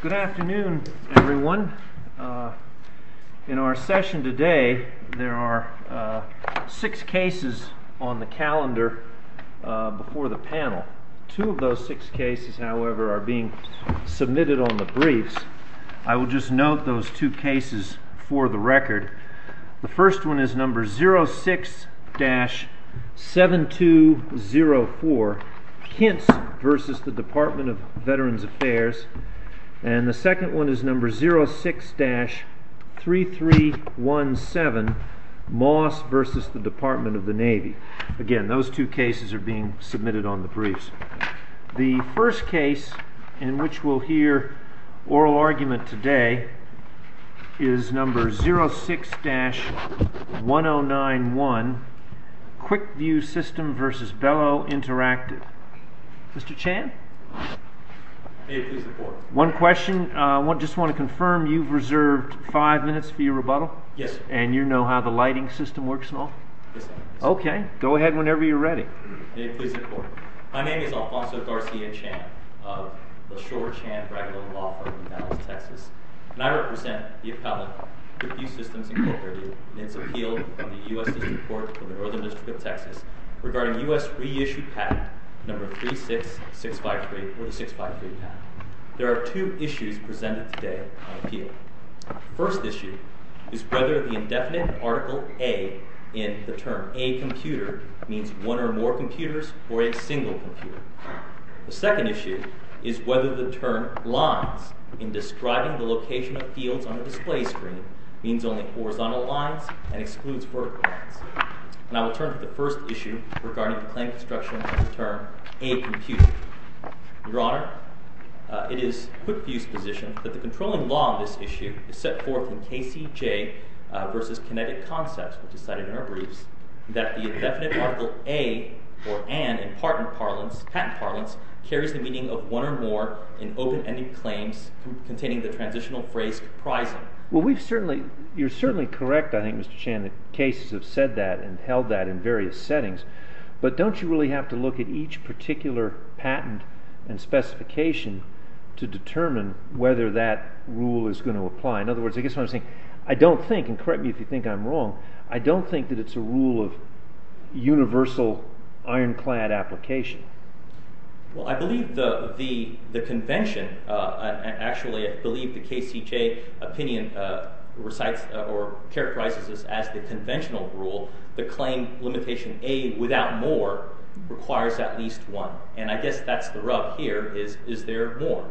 Good afternoon everyone. In our session today there are six cases on the calendar before the panel. Two of those six cases, however, are being submitted on the briefs. I will just note those two cases for the record. The first one is number 06-7204, Kintz v. Department of Veterans Affairs, and the second one is number 06-3317, Moss v. Department of the Navy. Again, those two cases are being submitted on the briefs. The first case in which we'll hear oral argument today is number 06-1091, Quickview System v. Belo Interactive. Mr. Chan, one question. I just want to confirm you've reserved five minutes for your rebuttal? Yes. And you know how the lighting system works and all? Yes. Okay, go ahead whenever you're ready. My name is Alfonso Garcia Chan of the Shore Chan Raglan Law Firm in Dallas, Texas, and I represent the appellate, Quickview Systems Incorporated in its appeal to the U.S. District Court of the Northern District of Texas regarding U.S. reissued patent number 36653 or the 653 patent. There are two issues presented today on appeal. The first issue is whether the indefinite article A in the term A computer means one or more computers or a single computer. The second issue is whether the term lines in describing the location of fields on a display screen means only horizontal lines and excludes vertical lines. And I will turn to the first issue regarding the claim construction of the term A computer. Your Honor, it is Quickview's position that the controlling law on this issue is set forth in KCJ v. Kinetic Concepts, which is cited in our briefs, that the indefinite article A or an in patent parlance carries the meaning of one or more in open-ending claims containing the transitional phrase comprising. Well, you're certainly correct, I think, Mr. Chan, that cases have said that and held that in various settings, but don't you really have to look at each particular patent and specification to determine whether that rule is going to apply? In other words, I guess what I'm saying, I don't think, correct me if you think I'm wrong, I don't think that it's a rule of universal ironclad application. Well, I believe the convention, I actually believe the KCJ opinion recites or characterizes this as the conventional rule, the claim limitation A without more requires at least one. And I guess that's the rub here, is there more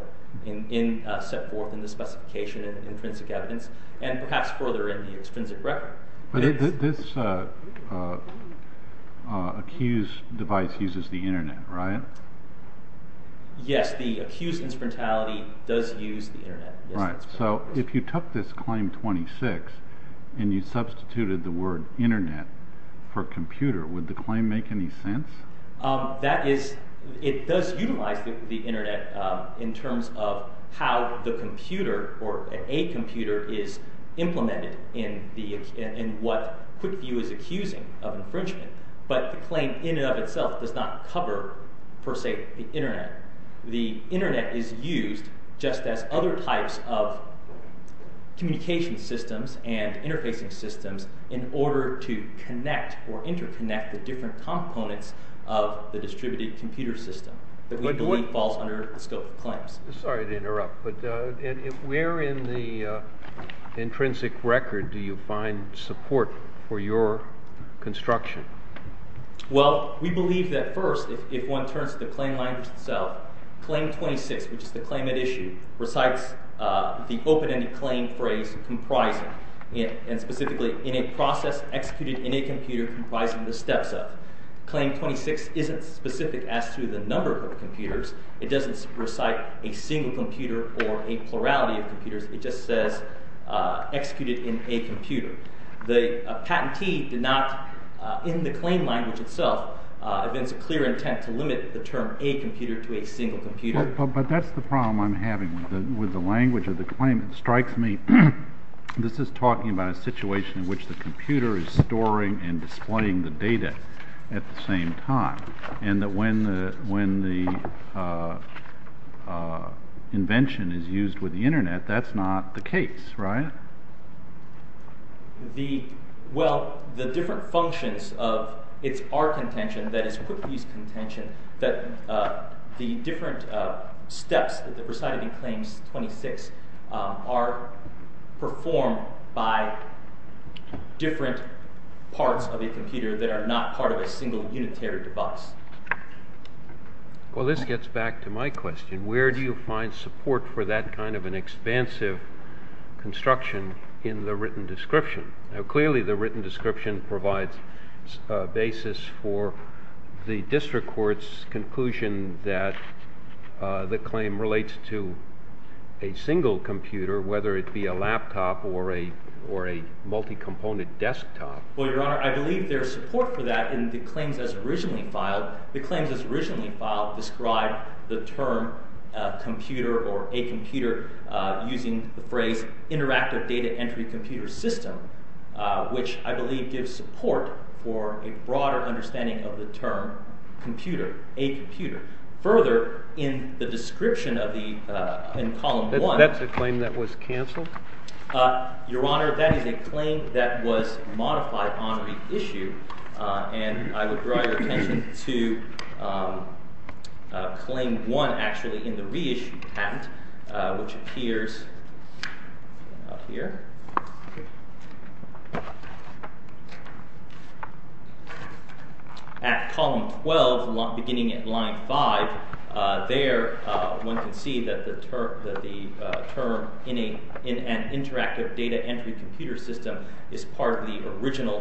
set forth in the specification and intrinsic evidence and perhaps further in the extrinsic record. But this accused device uses the internet, right? Yes, the accused instrumentality does use the internet. Right, so if you took this claim 26 and you substituted the word internet for computer, would the claim make any sense? That is, it does utilize the internet in terms of how the computer or a computer is implemented in what QuickView is accusing of infringement, but the claim in and of itself does not cover, per se, the internet. The internet is used just as other types of communication systems and interfacing systems in order to connect or interconnect the different components of the distributed computer system that we believe falls under the scope of claims. Sorry to interrupt, but where in the intrinsic record do you find support for your construction? Well, we believe that first, if one turns to the claim language itself, claim 26, which is the claim at issue, recites the open-ended claim phrase comprising it, and specifically in a process executed in a computer comprising the steps up. Claim 26 isn't specific as to the number of computers. It doesn't recite a single computer or a plurality of computers. It just says executed in a computer. The patentee did not, in the claim language itself, evince a clear intent to limit the term a computer to a single computer. But that's the problem I'm having with the language of the claim. It strikes me this is talking about a situation in which the computer is storing and displaying the data at the same time, and that when the invention is used with the internet, that's not the case, right? The, well, the different functions of, it's our contention, that is Cookview's contention, that the different steps that recited in claims 26 are performed by different parts of a computer that are not part of a single unitary device. Well, this gets back to my question. Where do you find support for that kind of an expansive construction in the written description? Now, clearly, the written description provides a basis for the district court's conclusion that the claim relates to a single computer, whether it be a laptop or a multi-component desktop. Well, Your Honor, I believe there's support for that in the claims as originally filed. The claims as originally filed describe the term computer or a computer using the phrase interactive data entry computer system, which I believe gives support for a broader understanding of the term computer, a computer. Further, in the description of the, in column one. That's a claim that was canceled? Your Honor, that is a claim that was modified on reissue, and I would draw your attention to claim one, actually, in the reissue patent, which appears up here. At column 12, beginning at line 5, there one can see that the term in an interactive data entry computer system is part of the original,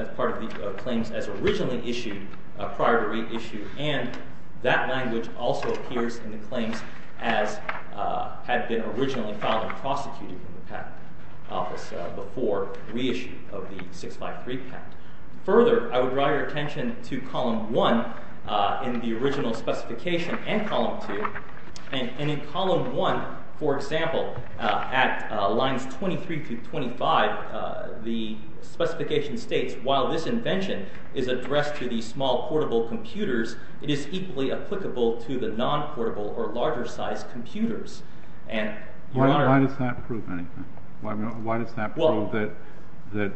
as part of the claims as originally issued prior to reissue, and that language also appears in the claims as had been originally filed and prosecuted in the patent office before reissue of the 653 patent. Further, I would draw your attention to column one in the original specification and column two, and in column one, for example, at lines 23 to 25, the specification states, while this invention is addressed to the small portable computers, it is equally applicable to the non-portable or larger size computers. Why does that prove anything? Why does that prove that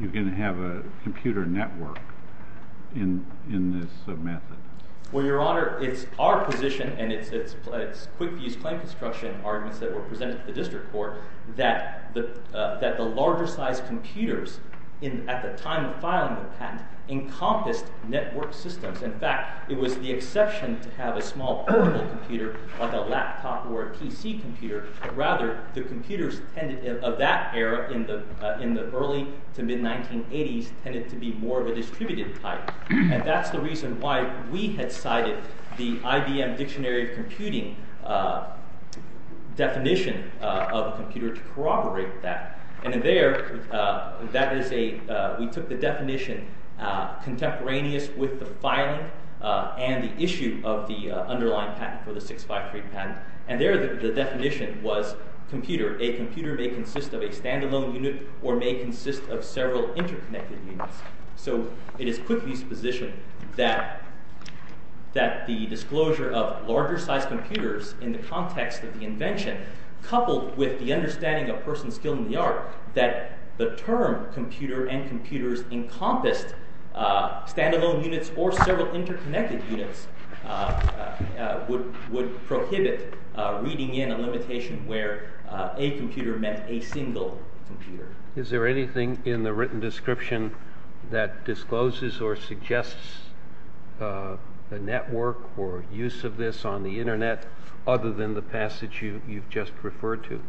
you're going to have a computer network in this method? Well, Your Honor, it's our position, and it's Quickview's claim construction arguments that were presented to the district court, that the larger size computers at the time of filing the work systems, in fact, it was the exception to have a small portable computer or the laptop or a PC computer, but rather, the computers of that era in the early to mid-1980s tended to be more of a distributed type, and that's the reason why we had cited the IBM Dictionary of Computing definition of a computer to corroborate that, and in there, we took the definition contemporaneous with the filing and the issue of the underlying patent for the 653 patent, and there, the definition was computer. A computer may consist of a standalone unit or may consist of several interconnected units, so it is Quickview's position that the disclosure of larger size computers in the context of the invention, coupled with the standalone units or several interconnected units, would prohibit reading in a limitation where a computer meant a single computer. Is there anything in the written description that discloses or suggests a network or use of this on the internet other than the passage you've just referred to?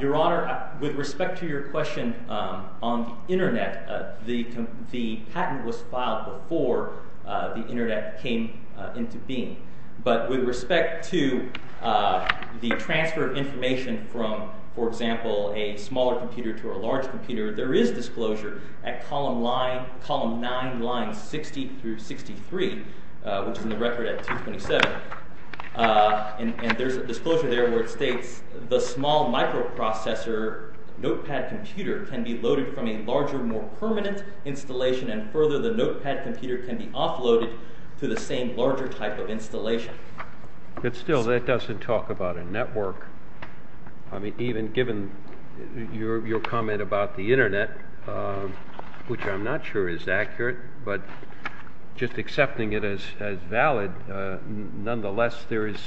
Your Honor, with respect to your question on the internet, the patent was filed before the internet came into being, but with respect to the transfer of information from, for example, a smaller computer to a large computer, there is disclosure at column 9, lines 60 through 63, which is in the record at 227, and there's a disclosure there where it states, the small microprocessor notepad computer can be loaded from a larger, more permanent installation, and further, the notepad computer can be offloaded to the same larger type of installation. But still, that doesn't talk about a network. I mean, even given your comment about the internet, which I'm not sure is accurate, but just accepting it as valid, nonetheless, there is,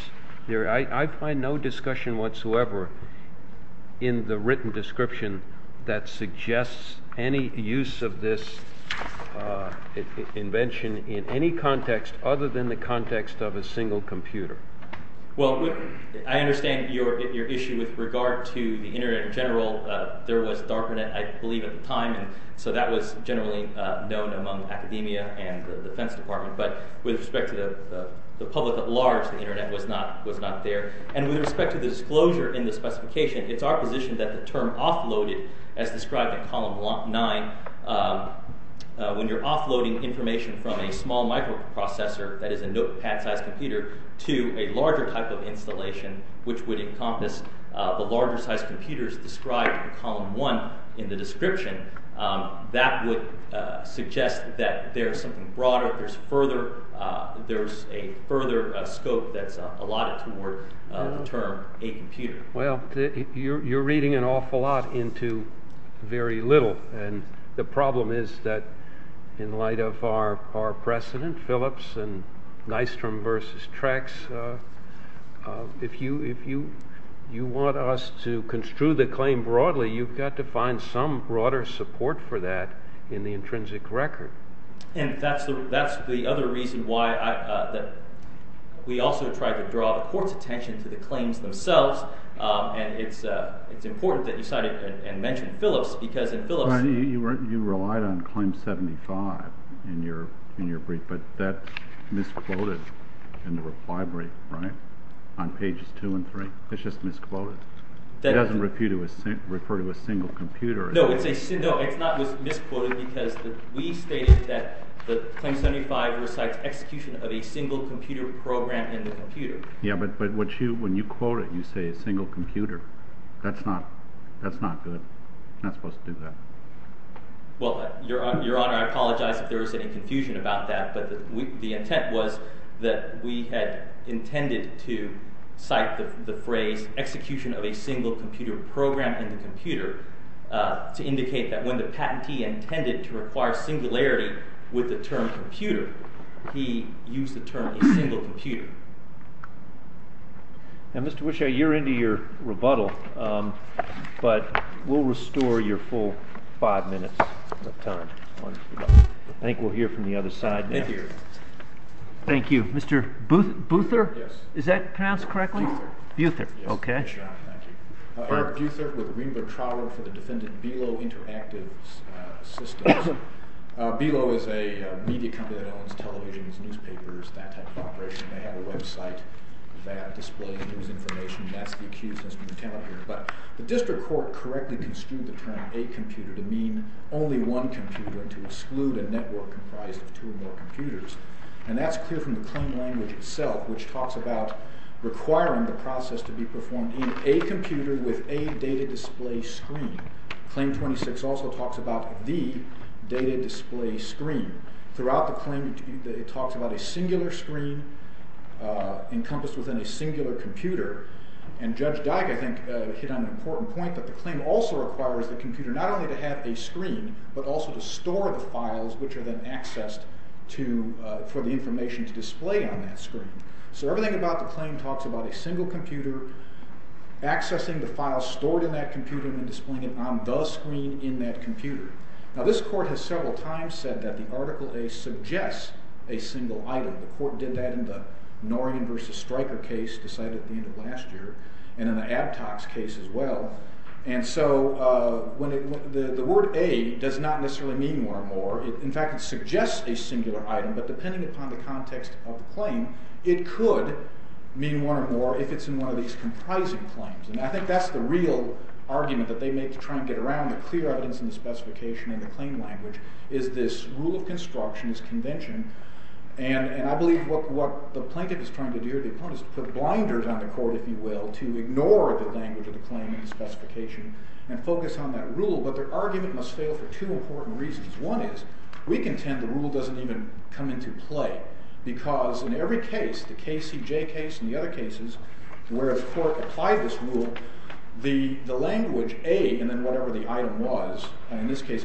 I find no discussion whatsoever in the written description that suggests any use of this invention in any context other than the context of a single computer. Well, I understand your issue with regard to the internet in general. There was DARPAnet, I believe, at the time, so that was generally known among academia and the defense department, but with respect to the public at large, the internet was not there. And with respect to the disclosure in the specification, it's our position that the term offloaded, as described in column 9, when you're offloading information from a small microprocessor, that is a notepad sized computer, to a larger type of installation, which would encompass the larger sized computers described in column 1 in the description, that would suggest that there's something broader, there's a further scope that's allotted toward the term a computer. Well, you're reading an awful lot into very little, and the problem is that in light of our the claim broadly, you've got to find some broader support for that in the intrinsic record. And that's the other reason why we also tried to draw the court's attention to the claims themselves, and it's important that you cite and mention Phillips, because in Phillips... Well, you relied on claim 75 in your brief, but that's misquoted in the reply brief, right, on pages 2 and 3. It's just misquoted. It doesn't refer to a single computer. No, it's not misquoted, because we stated that claim 75 recites execution of a single computer program in the computer. Yeah, but when you quote it, you say a single computer. That's not good. You're not supposed to do that. Well, Your Honor, I apologize if there was any confusion about that, but the intent was that we had intended to cite the phrase execution of a single computer program in the computer to indicate that when the patentee intended to require singularity with the term computer, he used the term a single computer. Now, Mr. Wischow, you're into your rebuttal, but we'll restore your full five minutes of time. I think we'll hear from the other side now. Thank you, Your Honor. Thank you. Mr. Boother? Yes. Yes, Boother. Boother, okay. Yes, yes, Your Honor. Thank you. Eric Boother with Wienberg Trauer for the defendant Bilo Interactive Systems. Bilo is a media company that owns televisions, newspapers, that type of operation. They have a website that displays news information. That's the accused as we count here, but the district court correctly construed the term a computer to mean only one computer, to exclude a network comprised of two or more computers, and that's clear from the claim language itself, which talks about requiring the process to be performed in a computer with a data display screen. Claim 26 also talks about the data display screen. Throughout the claim, it talks about a singular screen encompassed within a singular computer, and Judge Dyck, I think, hit on an important point that the claim also requires the computer not only to have a screen, but also to store the files which are then accessed for the information to display on that screen. So everything about the claim talks about a single computer accessing the files stored in that computer and then displaying it on the screen in that computer. Now, this court has several times said that the Article A suggests a single item. The court did that in the Norian v. Stryker case decided at the time. The word A does not necessarily mean one or more. In fact, it suggests a singular item, but depending upon the context of the claim, it could mean one or more if it's in one of these comprising claims, and I think that's the real argument that they make to try and get around the clear evidence in the specification and the claim language is this rule of construction, this convention, and I believe what the plaintiff is trying to do, or the opponent, is to put blinders on the court, if you will, to ignore the language of the claim in the specification and focus on that rule, but their argument must fail for two important reasons. One is, we contend the rule doesn't even come into play because in every case, the KCJ case and the other cases where the court applied this rule, the language A and then whatever the item was, in this case,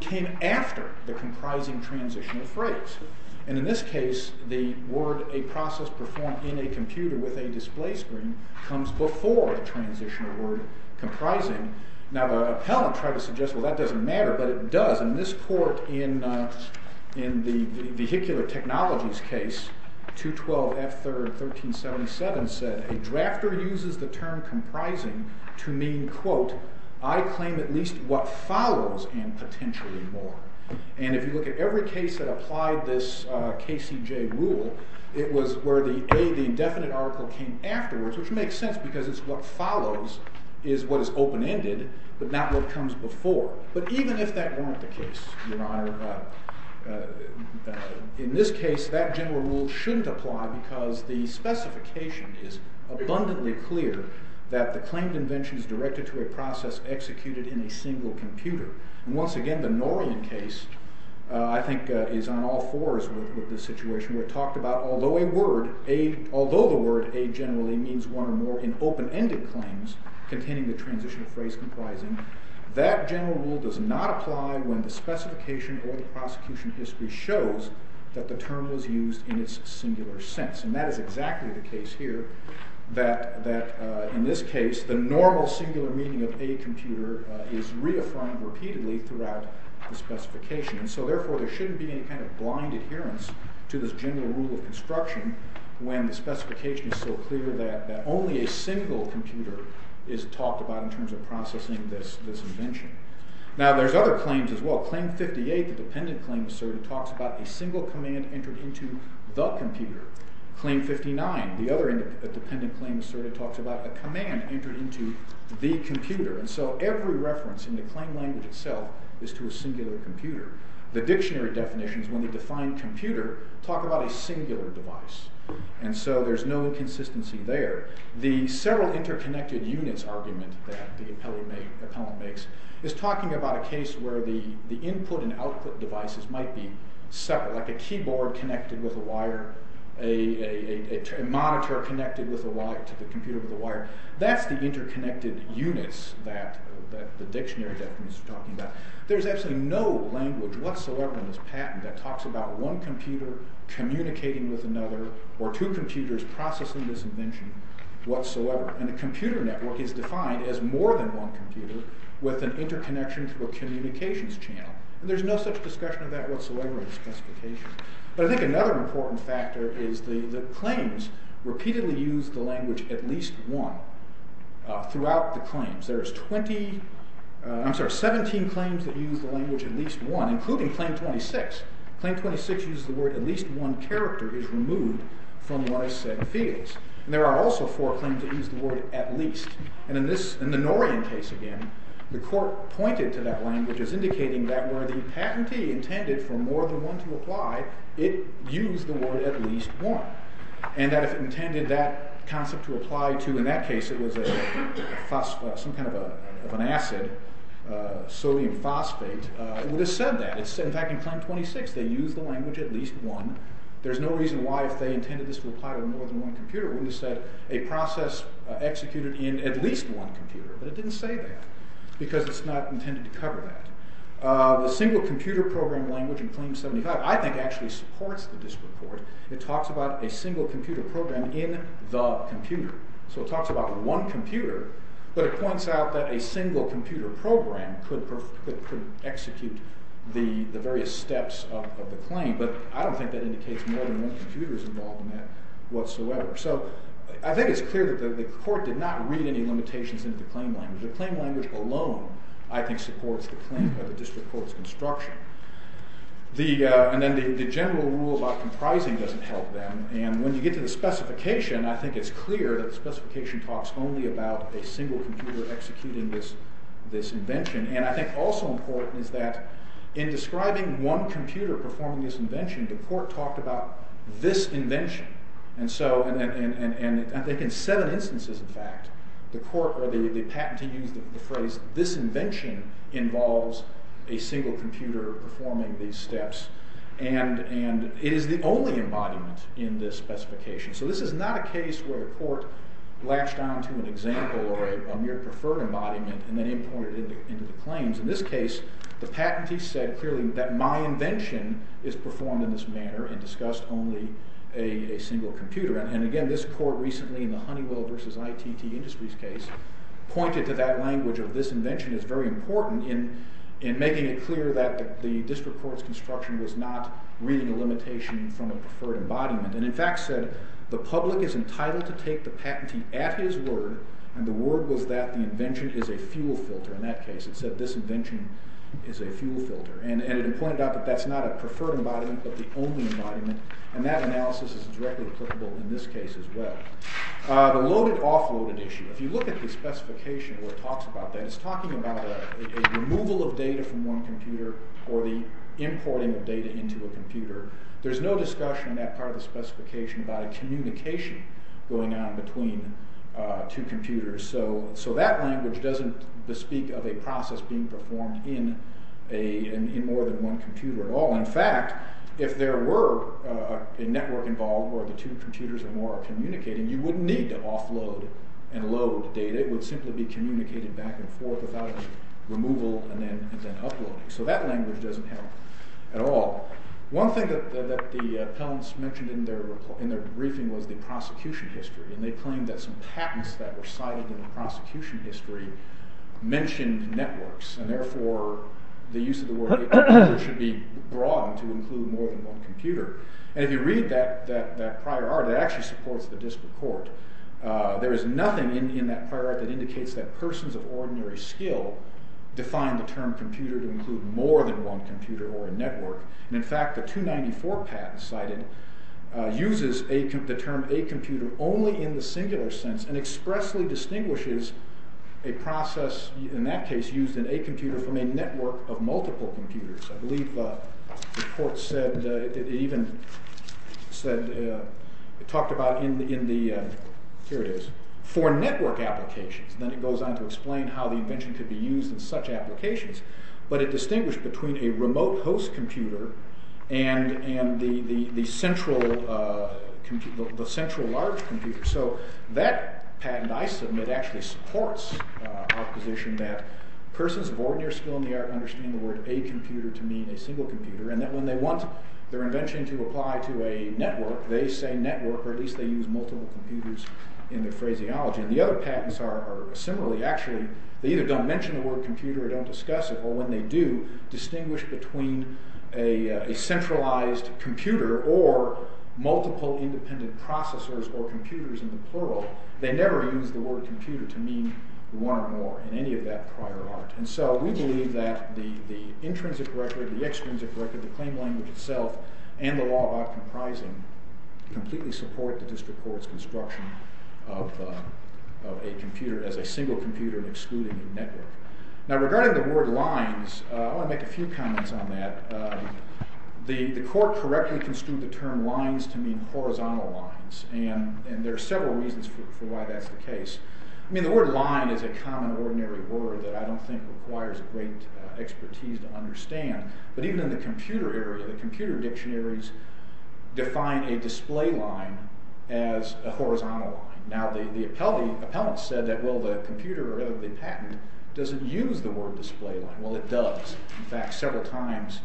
came after the comprising transitional phrase, and in this case, the word a process performed in a computer with a display screen comes before the transitional word comprising. Now, the appellant tried to suggest, well, that doesn't matter, but it does, and this court in the vehicular technologies case, 212 F. 3rd 1377, said a drafter uses the term comprising to mean, quote, I claim at least what follows and potentially more, and if you look at every case that applied this KCJ rule, it was where the indefinite article came afterwards, which makes sense because it's what follows is what is open-ended, but not what comes before, but even if that weren't the case, your honor, in this case, that general rule shouldn't apply because the specification is abundantly clear that the claimed invention is directed to a process executed in a single computer, and once again, the Norian case, I think, is on all fours with this situation where it talked about although a word, although the word a generally means one or more in open-ended claims containing the transitional phrase comprising, that general rule does not apply when the specification or the prosecution history shows that the term was used in its singular sense, and that is exactly the case here, that in this case, the normal singular meaning of a computer is reaffirmed repeatedly throughout the specification, so therefore, there shouldn't be any kind of blind adherence to this general rule of construction when the specification is so clear that only a single computer is talked about in terms of processing this invention. Now, there's other claims as well. Claim 58, the dependent claim asserted, talks about a single command entered into the computer. Claim 59, the other dependent claim asserted, talks about a command entered into the computer, and so every reference in the claim language itself is to a singular computer. The dictionary definitions, when they define computer, talk about a singular device, and so there's no consistency there. The several interconnected units argument that the appellant makes is talking about a case where the input and output devices might be several, like a keyboard connected with a wire, a monitor connected to the computer with a wire. That's the interconnected units that the dictionary definitions are talking about. There's absolutely no language whatsoever in this patent that talks about one computer communicating with another or two computers processing this invention whatsoever, and a computer network is defined as more than one computer with an interconnection through a communications channel, and there's no such discussion of that whatsoever in the specification. But I think another important factor is the claims repeatedly use the language at least one throughout the claims. There are 17 claims that use the language at least one, including Claim 26. Claim 26 uses the word at least one character is removed from what I said fields, and there are also four claims that use the word at least, and in the Norian case again, the court pointed to that language as indicating that where the patentee intended for more than one to apply, it used the word at least one, and that if it intended that concept to apply to, in that case, it was some kind of an acid, sodium phosphate, it would have said that. In fact, in Claim 26, they used the language at least one. There's no reason why if they intended this to apply to more than one computer, it would have said a process executed in at least one computer, but it didn't say that because it's not intended to cover that. The single computer program language in Claim 75 I think actually supports the district court. It talks about a single computer program in the computer. So it talks about one computer, but it points out that a single computer program could execute the various steps of the claim, but I don't think that indicates more than one computer is involved in that whatsoever. So I think it's clear that the court did not read any limitations into the claim language. The claim language alone, I think, supports the claim of the district court's construction. And then the general rule about comprising doesn't help them, and when you get to the specification, I think it's clear that the specification talks only about a single computer executing this invention, and I think also important is that in describing one computer performing this invention, the court talked about this invention, and they can set an in fact, the patenting used the phrase, this invention involves a single computer performing these steps, and it is the only embodiment in this specification. So this is not a case where a court latched onto an example or a mere preferred embodiment and then imported it into the claims. In this case, the patentee said clearly that my invention is performed in this manner and discussed only a single computer, and again, this court recently in the Honeywell versus ITT Industries case pointed to that language of this invention is very important in making it clear that the district court's construction was not reading a limitation from a preferred embodiment, and in fact said the public is entitled to take the patentee at his word, and the word was that the invention is a fuel filter. In that case, it said this invention is a fuel filter, and it pointed out that that's not a preferred embodiment, but the only embodiment, and that analysis is directly applicable in this case as well. The loaded-offloaded issue, if you look at the specification where it talks about that, it's talking about a removal of data from one computer or the importing of data into a computer. There's no discussion in that part of the specification about a communication going on between two computers, so that language doesn't bespeak of a process being performed in more than one computer at all. In fact, if there were a network involved where the two computers are more communicating, you wouldn't need to offload and load data, it would simply be communicated back and forth without removal and then uploading, so that language doesn't help at all. One thing that the appellants mentioned in their briefing was the prosecution history, and they claimed that some patents that were cited in the prosecution history mentioned networks, and therefore the use of the word network should be broad to include more than one computer. And if you read that prior art, it actually supports the district court. There is nothing in that prior art that indicates that persons of ordinary skill define the term computer to include more than one computer or a network. And in fact, the 294 patent cited uses the term a computer only in the singular sense and expressly distinguishes a process, in that case, used in a computer from a network of multiple computers. I believe the report said, it even said, it talked about in the, here it is, for network applications. Then it goes on to explain how the invention could be used in such applications, but it distinguished between a remote host computer and the central large computer. So that patent, I submit, actually supports our position that persons of ordinary skill in the single computer, and that when they want their invention to apply to a network, they say network, or at least they use multiple computers in their phraseology. And the other patents are similarly actually, they either don't mention the word computer or don't discuss it, or when they do distinguish between a centralized computer or multiple independent processors or computers in the plural, they never use the word computer to mean one or more in any of that prior art. So we believe that the intrinsic record, the extrinsic record, the claim language itself, and the law of outcomprising completely support the district court's construction of a computer as a single computer excluding a network. Now regarding the word lines, I want to make a few comments on that. The court correctly construed the term lines to mean horizontal lines, and there are several reasons for why that's the case. I mean, the word line is a common ordinary word that I don't think requires great expertise to understand, but even in the computer area, the computer dictionaries define a display line as a horizontal line. Now the appellant said that, well, the computer of the patent doesn't use the word display line. Well, it does. In fact, several times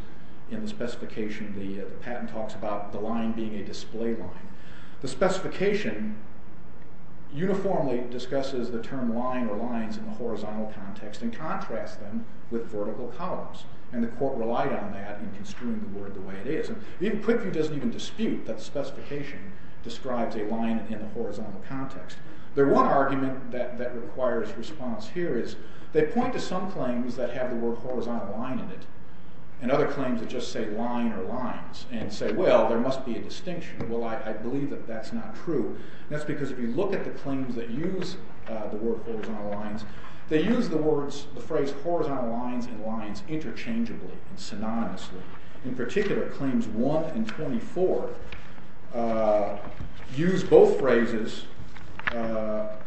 in the specification, the patent talks about the line being a display line. The specification uniformly discusses the term line or lines in the horizontal context and contrasts them with vertical columns, and the court relied on that in construing the word the way it is. Even Quickview doesn't even dispute that the specification describes a line in the horizontal context. The one argument that requires response here is they point to some claims that have the word horizontal line in it and other claims that just say line or lines and say, well, there must be a distinction. Well, I believe that that's not true. That's because if you look at the claims that use the word horizontal lines, they use the phrase horizontal lines and lines interchangeably and synonymously. In particular, claims 1 and 24 use both phrases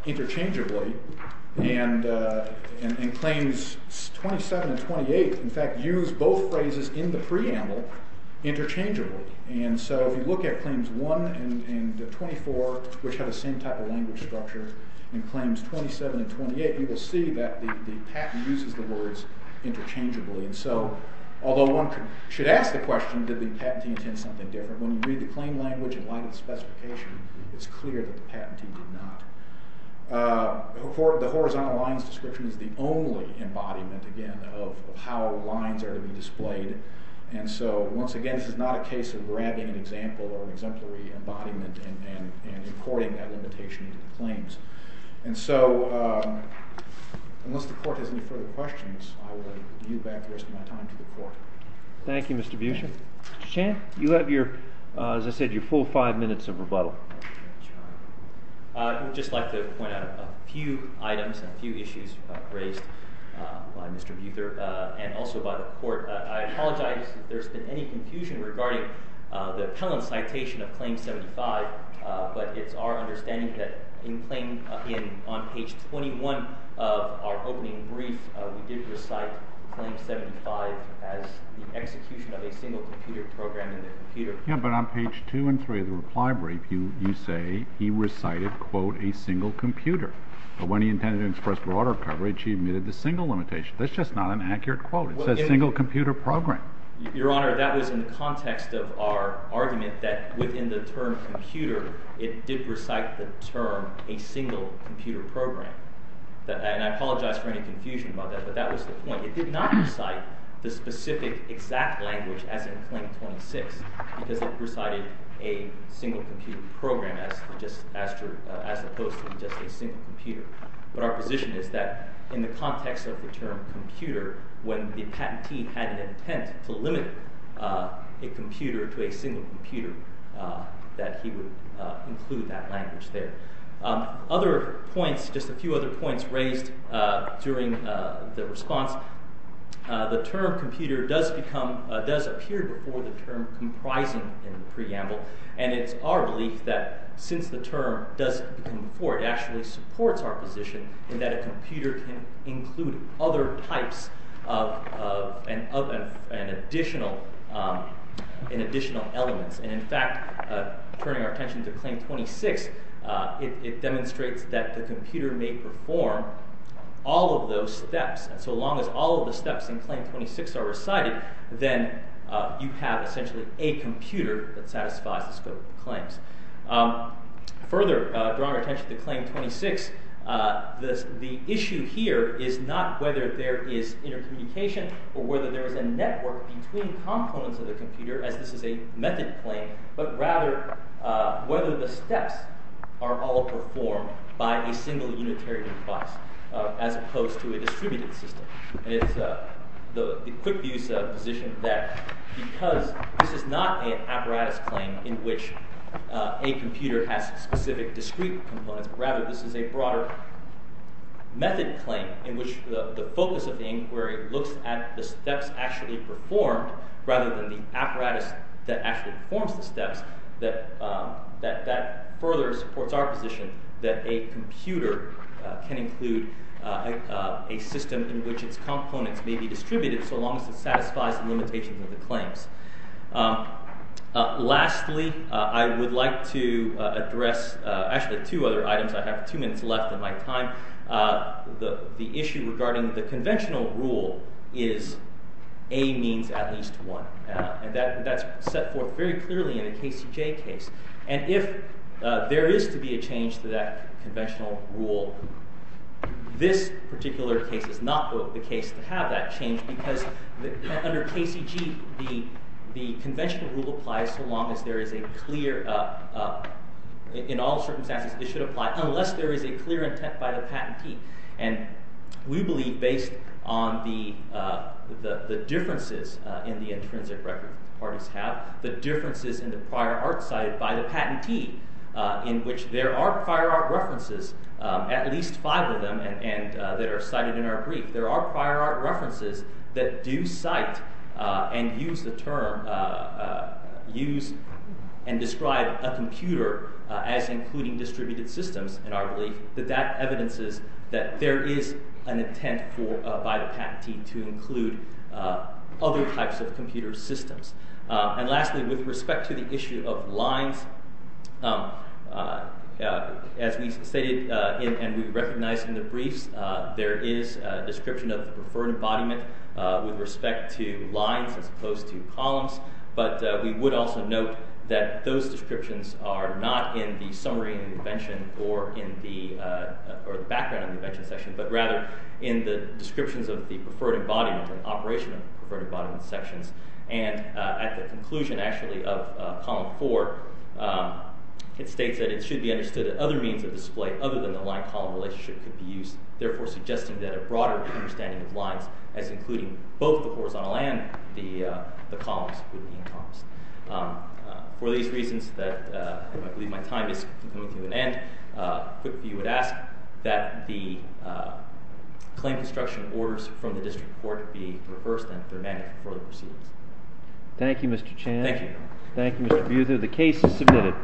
interchangeably and claims 27 and 28, in fact, use both phrases in the preamble interchangeably. And so if you look at claims 1 and 24, which have the same type of language structure, and claims 27 and 28, you will see that the patent uses the words interchangeably. And so although one should ask the question, did the patentee intend something different? When you read the claim language in the court, the horizontal lines description is the only embodiment, again, of how lines are to be displayed. And so once again, this is not a case of grabbing an example or an exemplary embodiment and importing that limitation into the claims. And so unless the court has any further questions, I will give you back the rest of my time to the court. Thank you, Mr. Buescher. Mr. Buescher. I would just like to point out a few items and a few issues raised by Mr. Buescher and also by the court. I apologize if there's been any confusion regarding the appellant citation of claim 75, but it's our understanding that in claim in on page 21 of our opening brief, we did recite claim 75 as the execution of a single computer program in the computer. Yeah, but on page two and three of the reply brief, you say he recited quote a single computer, but when he intended to express broader coverage, he admitted the single limitation. That's just not an accurate quote. It says single computer program. Your honor, that was in the context of our argument that within the term computer, it did recite the term a single computer program. And I apologize for any confusion about that, but that was the point. It did not recite the specific exact language as in claim 26, because it recited a single computer program as opposed to just a single computer. But our position is that in the context of the term computer, when the patentee had an intent to limit a computer to a single computer, that he would include that language there. Other points, just a few other points raised during the response. The term computer does appear before the term comprising in the preamble, and it's our belief that since the term does come before, it actually supports our position in that a computer can include other types of an additional elements. And in fact, turning our attention to claim 26, it demonstrates that the computer may perform all of those steps. And so long as all of the steps in claim 26 are recited, then you have essentially a computer that satisfies the scope of claims. Further drawing attention to claim 26, the issue here is not whether there is intercommunication or whether there is a network between components of the computer as this is a method claim, but rather whether the steps are all performed by a single unitary device as opposed to a distributed system. And it's the quick view's position that because this is not an apparatus claim in which a computer has specific discrete components, rather this is a broader method claim in which the focus of the inquiry looks at the steps actually performed rather than the apparatus that actually performs the steps, that further supports our position that a computer can include a system in which its components may be distributed so long as it satisfies the limitations of the claims. Lastly, I would like to address actually two other items. I have two minutes left in my time. The issue regarding the conventional rule is A means at least one, and that's set forth very clearly in the KCJ case. And if there is to be a change to that conventional rule, this particular case is not the case to have that change because under KCG, the conventional rule applies so long as there is a clear, in all circumstances, it should apply unless there is a clear intent by the patentee. And we believe based on the intrinsic record parties have, the differences in the prior art cited by the patentee in which there are prior art references, at least five of them, that are cited in our brief. There are prior art references that do cite and use the term, use and describe a computer as including distributed systems in our belief, that that evidences that there is an intent by the patentee to include other types of computer systems. And lastly, with respect to the issue of lines, as we stated and we recognized in the briefs, there is a description of the preferred embodiment with respect to lines as opposed to columns, but we would also note that those descriptions are not in the summary intervention or in the background intervention section, but rather in the descriptions of the preferred embodiment and operation of preferred embodiment sections. And at the conclusion, actually, of column four, it states that it should be understood that other means of display other than the line-column relationship could be used, therefore suggesting that a broader understanding of lines as including both the horizontal and the columns would be encompassed. For these reasons that I believe my time is coming to an end, I quickly would ask that the claim construction orders from the district court be reversed and fermented for the proceedings. Thank you, Mr. Chan. Thank you. Thank you, Mr. Buzer. The case is submitted.